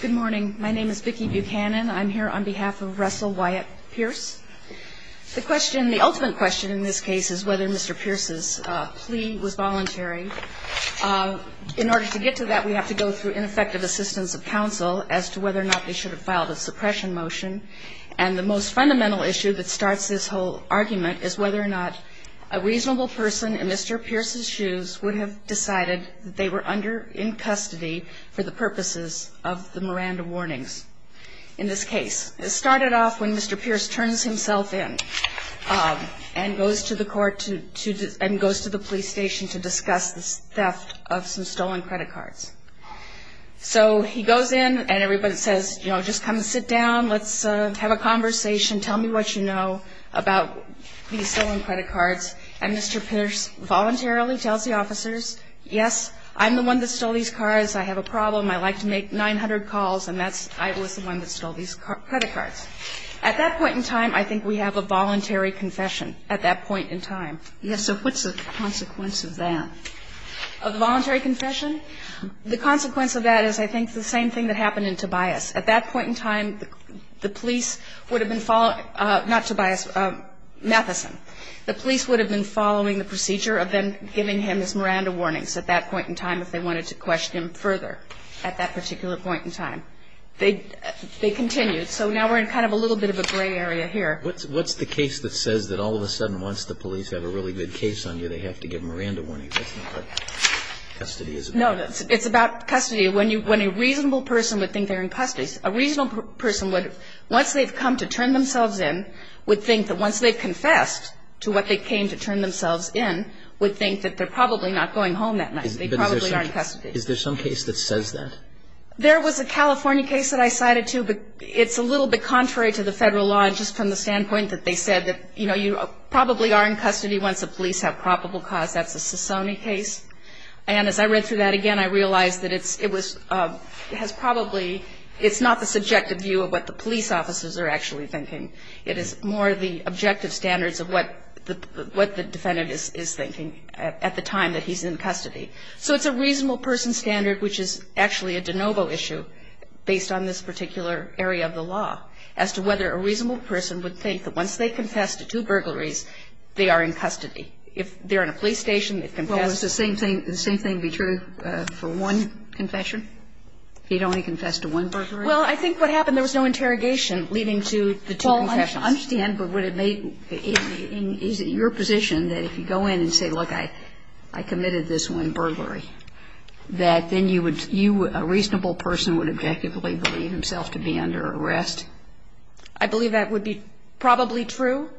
Good morning. My name is Vicki Buchanan. I'm here on behalf of Russell Wyatt Pierce. The question, the ultimate question in this case is whether Mr. Pierce's plea was voluntary. In order to get to that, we have to go through ineffective assistance of counsel as to whether or not they should have filed a suppression motion. And the most fundamental issue that starts this whole argument is whether or not a reasonable person in Mr. Pierce's shoes would have decided that they were in custody for the purposes of the Miranda warnings in this case. It started off when Mr. Pierce turns himself in and goes to the police station to discuss the theft of some stolen credit cards. So he goes in and everybody says, you know, just come sit down, let's have a conversation, tell me what you know about these stolen credit cards. And Mr. Pierce voluntarily tells the officers, yes, I'm the one that stole these cards, I have a problem, I'd like to make 900 calls, and that's – I was the one that stole these credit cards. At that point in time, I think we have a voluntary confession, at that point in time. Yes, so what's the consequence of that? Of the voluntary confession? The consequence of that is I think the same thing that happened in Tobias. At that point in time, the police would have been following – not Tobias, Matheson. The police would have been following the procedure of them giving him his Miranda warnings at that point in time if they wanted to question him further at that particular point in time. They continued. So now we're in kind of a little bit of a gray area here. What's the case that says that all of a sudden once the police have a really good case on you, they have to give Miranda warnings? That's not what custody is about. No, it's about custody. When you – when a reasonable person would think they're in custody, a reasonable person would – once they've come to turn themselves in, would think that once they've confessed to what they came to turn themselves in, would think that they're probably not going home that night. They probably are in custody. Is there some case that says that? There was a California case that I cited, too, but it's a little bit contrary to the Federal law just from the standpoint that they said that, you know, you probably are in custody once the police have probable cause. That's a Sassoni case. And as I read through that again, I realized that it was – it has probably – it's not the subjective view of what the police officers are actually thinking. It is more the objective standards of what the defendant is thinking at the time that he's in custody. So it's a reasonable person standard, which is actually a de novo issue, based on this particular area of the law, as to whether a reasonable person would think that once they confess to two burglaries, they are in custody. If they're in a police station, they've confessed. Well, would the same thing be true for one confession? He'd only confessed to one burglary? Well, I think what happened, there was no interrogation leading to the two confessions. Well, I understand, but would it make – is it your position that if you go in and say, look, I committed this one burglary, that then you would – you, a reasonable person, would objectively believe himself to be under arrest? I believe that would be probably true.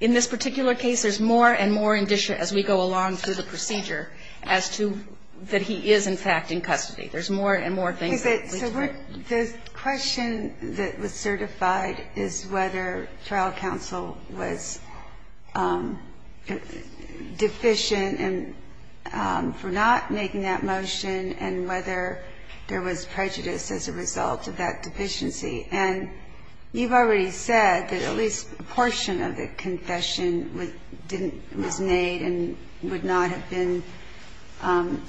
In this particular case, there's more and more indicia as we go along through the procedure as to that he is, in fact, in custody. There's more and more things that we talk about. So the question that was certified is whether trial counsel was deficient and for not making that motion and whether there was prejudice as a result of that deficiency. And you've already said that at least a portion of the confession didn't – was made and would not have been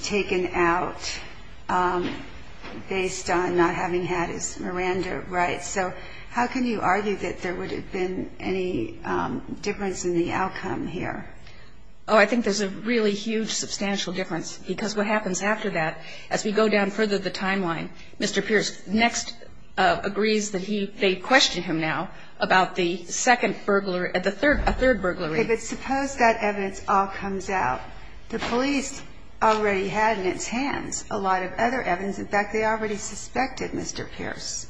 taken out based on not having had his Miranda rights. So how can you argue that there would have been any difference in the outcome here? Oh, I think there's a really huge, substantial difference, because what happens after that, as we go down further the timeline, Mr. Pierce next agrees that he – they question him now about the second burglary – the third – a third burglary. But suppose that evidence all comes out. The police already had in its hands a lot of other evidence. In fact, they already suspected Mr. Pierce.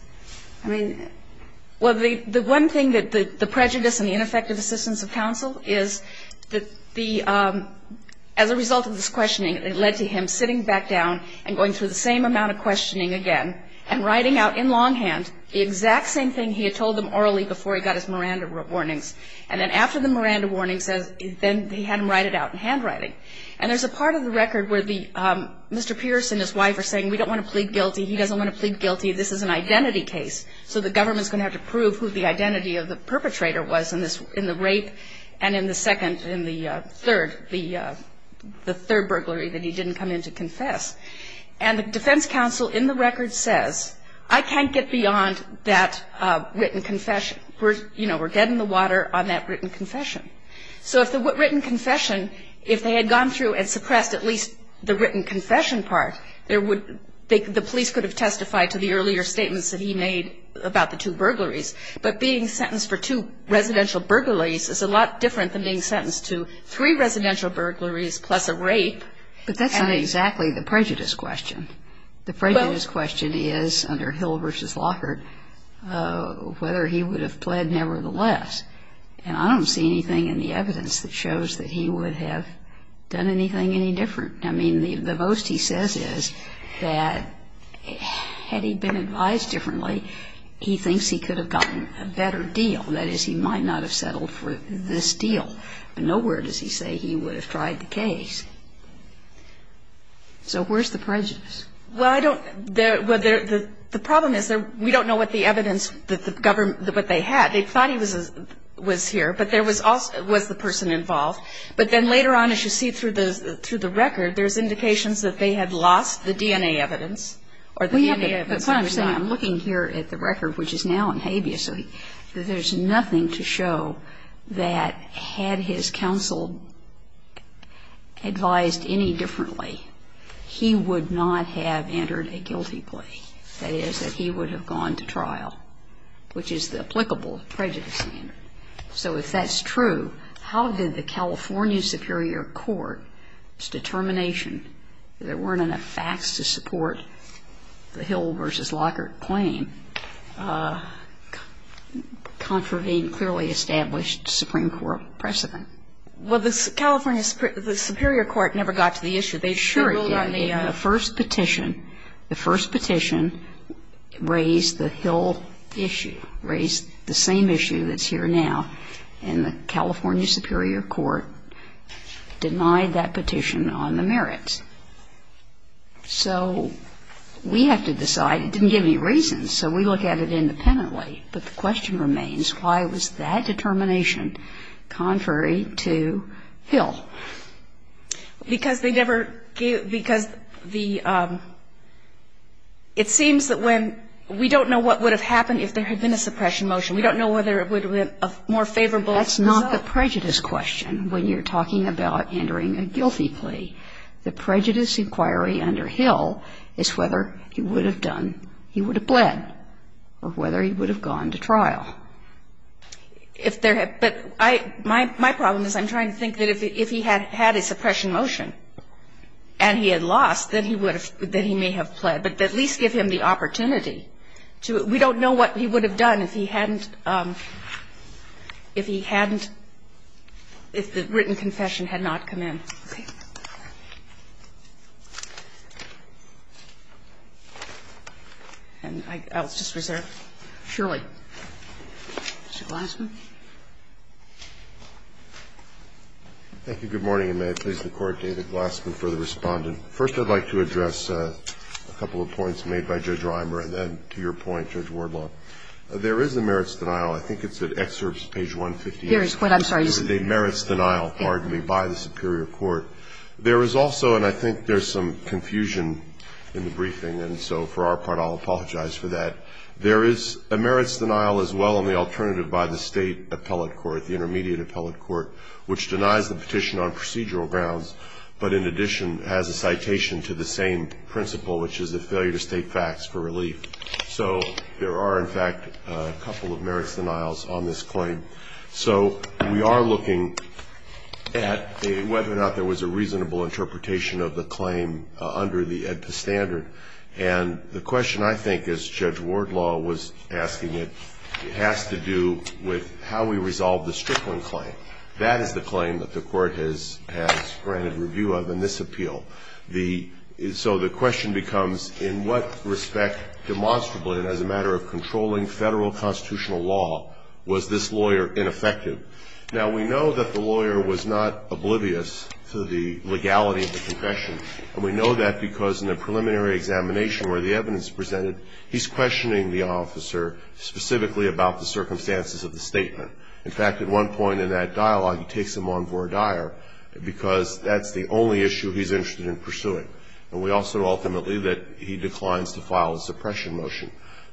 I mean – Well, the one thing that the prejudice and the ineffective assistance of counsel is that the – as a result of this questioning, it led to him sitting back down and going through the same amount of questioning again and writing out in longhand the exact same thing he had told them orally before he got his Miranda warnings. And then after the Miranda warnings, then he had them write it out in handwriting. And there's a part of the record where the – Mr. Pierce and his wife are saying we don't want to plead guilty. He doesn't want to plead guilty. This is an identity case. So the government's going to have to prove who the identity of the perpetrator was in the rape and in the second – in the third – the third burglary that he didn't come in to confess. And the defense counsel in the record says, I can't get beyond that written confession. You know, we're getting the water on that written confession. So if the written confession – if they had gone through and suppressed at least the written confession part, there would – the police could have testified to the earlier statements that he made about the two burglaries. But being sentenced for two residential burglaries is a lot different than being sentenced to three residential burglaries plus a rape. But that's not exactly the prejudice question. The prejudice question is under Hill v. Lockhart whether he would have pled nevertheless. And I don't see anything in the evidence that shows that he would have done anything any different. I mean, the most he says is that had he been advised differently, he thinks he could have gotten a better deal. That is, he might not have settled for this deal. But nowhere does he say he would have tried the case. So where's the prejudice? Well, I don't – the problem is we don't know what the evidence that the government – what they had. They thought he was here, but there was also – was the person involved. But then later on, as you see through the record, there's indications that they had lost the DNA evidence or the DNA evidence. But what I'm saying, I'm looking here at the record, which is now in habeas, that there's nothing to show that had his counsel advised any differently, he would not have entered a guilty plea. That is, that he would have gone to trial, which is the applicable prejudice standard. So if that's true, how did the California Superior Court's determination that there weren't enough facts to support the Hill v. Lockhart claim contravene clearly established Supreme Court precedent? Well, the California – the Superior Court never got to the issue. They should have. Sure, it did. In the first petition, the first petition raised the Hill issue, raised the same issue that's here now. And the California Superior Court denied that petition on the merits. So we have to decide. It didn't give any reason, so we look at it independently. But the question remains, why was that determination contrary to Hill? Because they never gave – because the – it seems that when – we don't know what would have happened if there had been a suppression motion. We don't know whether it would have been a more favorable result. That's not the prejudice question when you're talking about entering a guilty plea. The prejudice inquiry under Hill is whether he would have done – he would have pled or whether he would have gone to trial. If there had – but I – my problem is I'm trying to think that if he had had a suppression motion and he had lost, then he would have – then he may have pled. But at least give him the opportunity to – we don't know what he would have done if he hadn't – if he hadn't – if the written confession had not come in. Okay? And I'll just reserve. Surely. Mr. Glassman? Thank you. Good morning, and may I please record David Glassman for the Respondent. First, I'd like to address a couple of points made by Judge Reimer and then to your point, Judge Wardlaw. There is a merits denial. I think it's at excerpts, page 150. Here is what I'm sorry. A merits denial, pardon me, by the superior court. There is also – and I think there's some confusion in the briefing, and so for our part, I'll apologize for that. There is a merits denial as well in the alternative by the State appellate court, the intermediate appellate court, which denies the petition on procedural grounds, but in addition has a citation to the same principle, which is a failure to state facts for relief. So there are, in fact, a couple of merits denials on this claim. So we are looking at whether or not there was a reasonable interpretation of the claim under the AEDPA standard, and the question I think, as Judge Wardlaw was asking it, has to do with how we resolve the Strickland claim. That is the claim that the court has granted review of in this appeal. So the question becomes, in what respect demonstrably and as a matter of controlling Federal constitutional law was this lawyer ineffective? Now, we know that the lawyer was not oblivious to the legality of the confession, and we know that because in the preliminary examination where the evidence is presented, he's questioning the officer specifically about the circumstances of the statement. In fact, at one point in that dialogue, he takes him on vor dire because that's the only issue he's interested in pursuing. And we also know ultimately that he declines to file a suppression motion.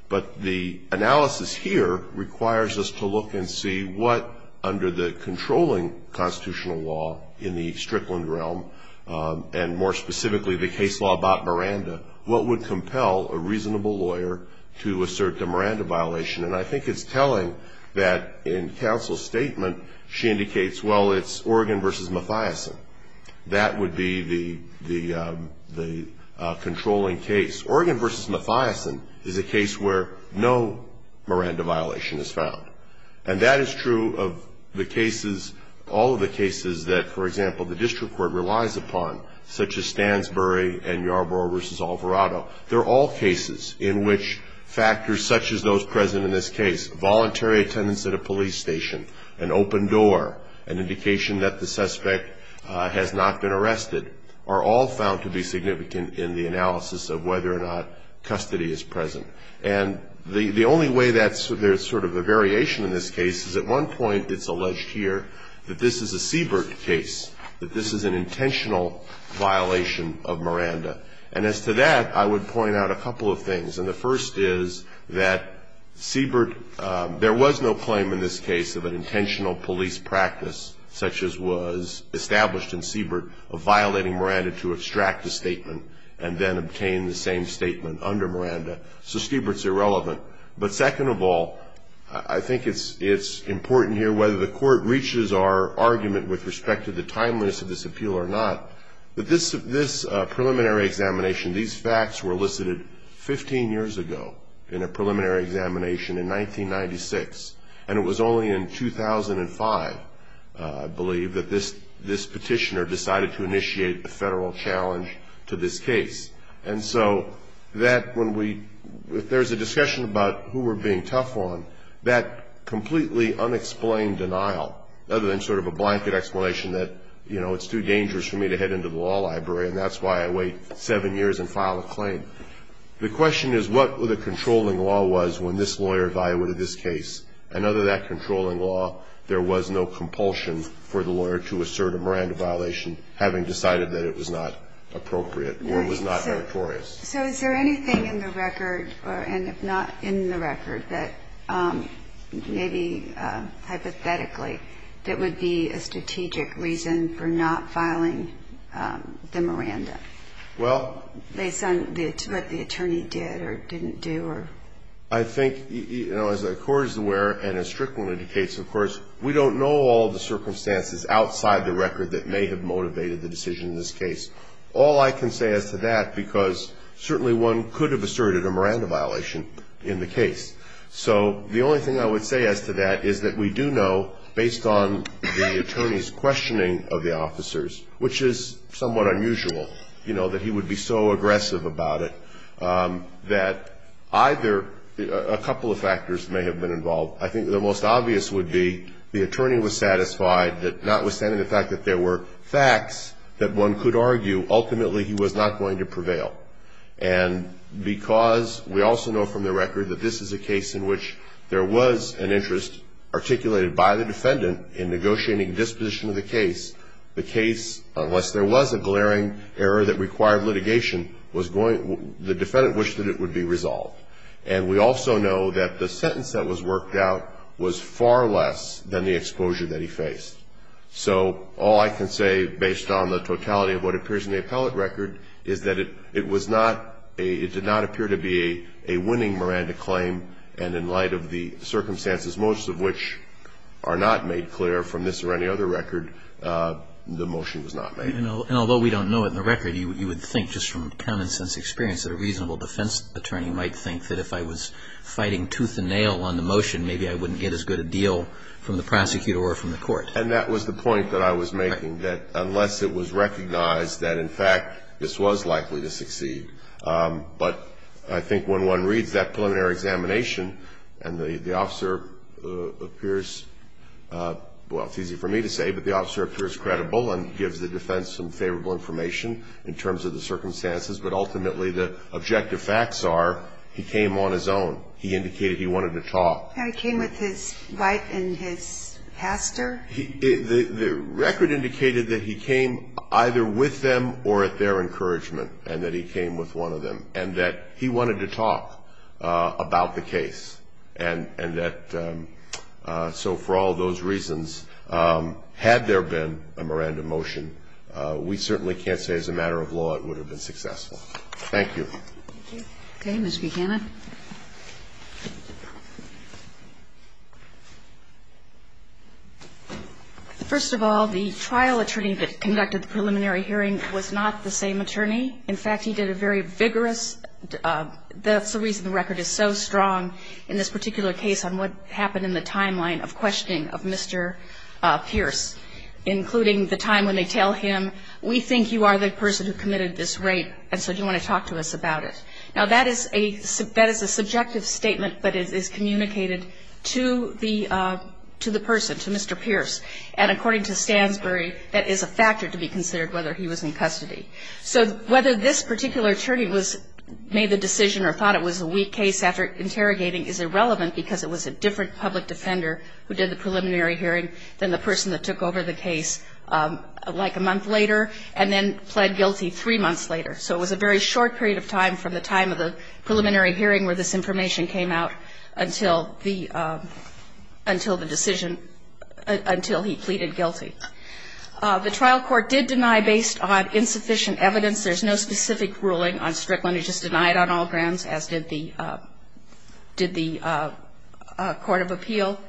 But the analysis here requires us to look and see what, under the controlling constitutional law in the Strickland realm, and more specifically the case law about Miranda, what would compel a reasonable lawyer to assert the Miranda violation. And I think it's telling that in counsel's statement, she indicates, well, it's Oregon v. Mathiasen. That would be the controlling case. Oregon v. Mathiasen is a case where no Miranda violation is found. And that is true of the cases, all of the cases that, for example, the district court relies upon, such as Stansbury and Yarborough v. Alvarado. They're all cases in which factors such as those present in this case, voluntary attendance at a police station, an open door, an indication that the suspect has not been arrested, are all found to be significant in the analysis of whether or not custody is present. And the only way that there's sort of a variation in this case is at one point it's alleged here that this is a Siebert case, that this is an intentional violation of Miranda. And as to that, I would point out a couple of things. And the first is that Siebert, there was no claim in this case of an intentional police practice such as was established in Siebert of violating Miranda to extract a statement and then obtain the same statement under Miranda. So Siebert's irrelevant. But second of all, I think it's important here, whether the Court reaches our argument with respect to the timeliness of this appeal or not, that this preliminary examination, these facts were elicited 15 years ago in a preliminary examination in 1996. And it was only in 2005, I believe, that this petitioner decided to initiate a federal challenge to this case. And so that when we, if there's a discussion about who we're being tough on, that completely unexplained denial, other than sort of a blanket explanation that, you know, it's too dangerous for me to head into the law library and that's why I wait seven years and file a claim. The question is what the controlling law was when this lawyer evaluated this case. And under that controlling law, there was no compulsion for the lawyer to assert a Miranda violation, having decided that it was not appropriate or was not meritorious. So is there anything in the record, and if not in the record, that maybe hypothetically that would be a strategic reason for not filing the Miranda? Well. Based on what the attorney did or didn't do or? I think, you know, as the Court is aware, and as Strickland indicates, of course, we don't know all the circumstances outside the record that may have motivated the decision in this case. All I can say as to that, because certainly one could have asserted a Miranda violation in the case. So the only thing I would say as to that is that we do know, based on the attorney's questioning of the officers, which is somewhat unusual, you know, that he would be so aggressive about it, that either a couple of factors may have been involved. I think the most obvious would be the attorney was satisfied that notwithstanding the fact that there were facts that one could argue, ultimately, he was not going to prevail. And because we also know from the record that this is a case in which there was an interest articulated by the defendant in negotiating disposition of the case, the case, unless there was a glaring error that required litigation, the defendant wished that it would be resolved. And we also know that the sentence that was worked out was far less than the exposure that he faced. So all I can say, based on the totality of what appears in the appellate record, is that it was not a, it did not appear to be a winning Miranda claim, and in light of the circumstances, most of which are not made clear from this or any other record, the motion was not made. And although we don't know it in the record, you would think just from common sense experience that a reasonable defense attorney might think that if I was fighting tooth and nail on the motion, maybe I wouldn't get as good a deal from the prosecutor or from the court. And that was the point that I was making, that unless it was recognized that in fact this was likely to succeed. But I think when one reads that preliminary examination, and the officer appears, well, it's easy for me to say, but the officer appears credible and gives the defense some favorable information in terms of the circumstances, but ultimately the objective facts are he came on his own. He indicated he wanted to talk. He came with his wife and his pastor. The record indicated that he came either with them or at their encouragement and that he came with one of them and that he wanted to talk about the case. And that so for all those reasons, had there been a Miranda motion, we certainly can't say as a matter of law it would have been successful. Thank you. Okay. Ms. Buchanan. First of all, the trial attorney that conducted the preliminary hearing was not the same attorney. In fact, he did a very vigorous – that's the reason the record is so strong in this particular case on what happened in the timeline of questioning of Mr. Pierce, including the time when they tell him, We think you are the person who committed this rape, and so do you want to talk to us about it? Now, that is a subjective statement, but it is communicated to the person, to Mr. Pierce. And according to Stansbury, that is a factor to be considered whether he was in custody. So whether this particular attorney made the decision or thought it was a weak case after interrogating is irrelevant because it was a different public defender who did the preliminary hearing than the person that took over the case like a month later and then pled guilty three months later. So it was a very short period of time from the time of the preliminary hearing where this information came out until the decision – until he pleaded guilty. The trial court did deny based on insufficient evidence. There's no specific ruling on Strickland. It was just denied on all grounds, as did the court of appeal.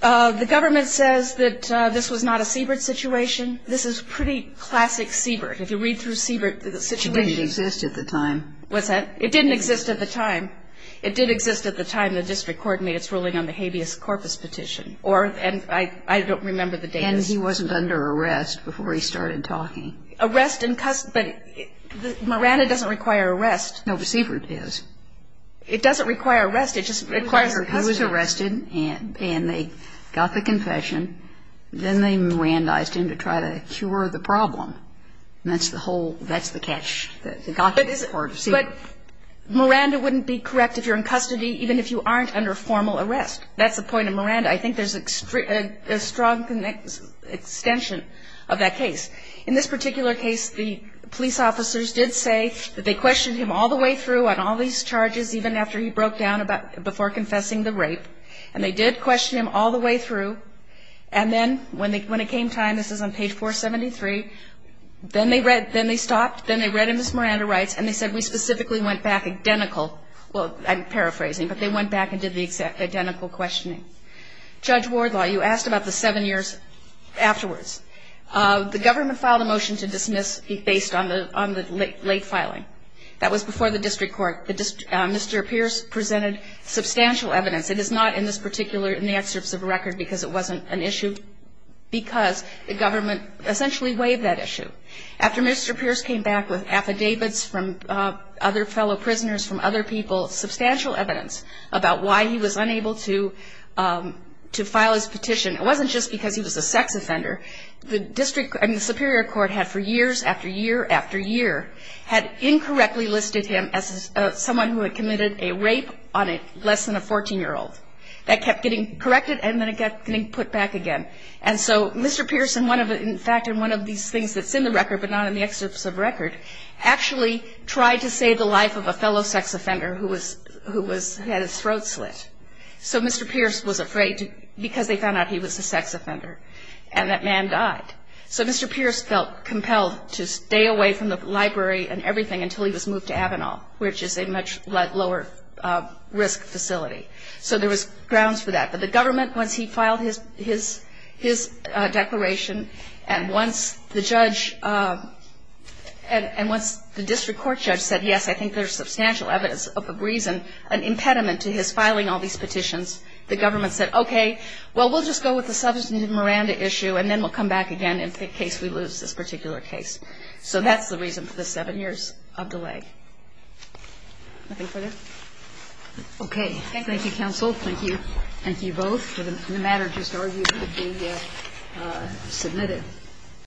The government says that this was not a Siebert situation. This is pretty classic Siebert. If you read through Siebert, the situation – It didn't exist at the time. What's that? It didn't exist at the time. It did exist at the time the district court made its ruling on the habeas corpus petition. And I don't remember the date. And he wasn't under arrest before he started talking. Arrest in custody. Maranda doesn't require arrest. No, but Siebert is. It doesn't require arrest. It just requires custody. He was arrested, and they got the confession. Then they Mirandized him to try to cure the problem. And that's the whole – that's the catch. But Miranda wouldn't be correct if you're in custody even if you aren't under formal arrest. That's the point of Miranda. I think there's a strong extension of that case. In this particular case, the police officers did say that they questioned him all the way through on all these charges even after he broke down before confessing the rape. And they did question him all the way through. And then when it came time – this is on page 473 – then they stopped, then they read him as Miranda writes, and they said, we specifically went back identical – well, I'm paraphrasing, but they went back and did the identical questioning. Judge Wardlaw, you asked about the seven years afterwards. The government filed a motion to dismiss based on the late filing. That was before the district court. Mr. Pierce presented substantial evidence. It is not in this particular – in the excerpts of the record because it wasn't an issue, because the government essentially waived that issue. After Mr. Pierce came back with affidavits from other fellow prisoners, from other people, substantial evidence about why he was unable to file his petition, it wasn't just because he was a sex offender. The district – I mean, the superior court had, for years after year after year, had incorrectly listed him as someone who had committed a rape on less than a 14-year-old. That kept getting corrected, and then it got put back again. And so Mr. Pierce, in fact, in one of these things that's in the record but not in the excerpts of the record, actually tried to save the life of a fellow sex offender who had his throat slit. So Mr. Pierce was afraid because they found out he was a sex offender. And that man died. So Mr. Pierce felt compelled to stay away from the library and everything until he was moved to Avenal, which is a much lower risk facility. So there was grounds for that. But the government, once he filed his declaration, and once the judge – and once the district court judge said, yes, I think there's substantial evidence of a reason, an impediment to his filing all these petitions, the government said, okay, well, we'll just go with the substantive Miranda issue and then we'll come back again in case we lose this particular case. So that's the reason for the seven years of delay. Nothing further? Okay. Thank you. Thank you, counsel. Thank you. Thank you both. The matter just argued to be submitted.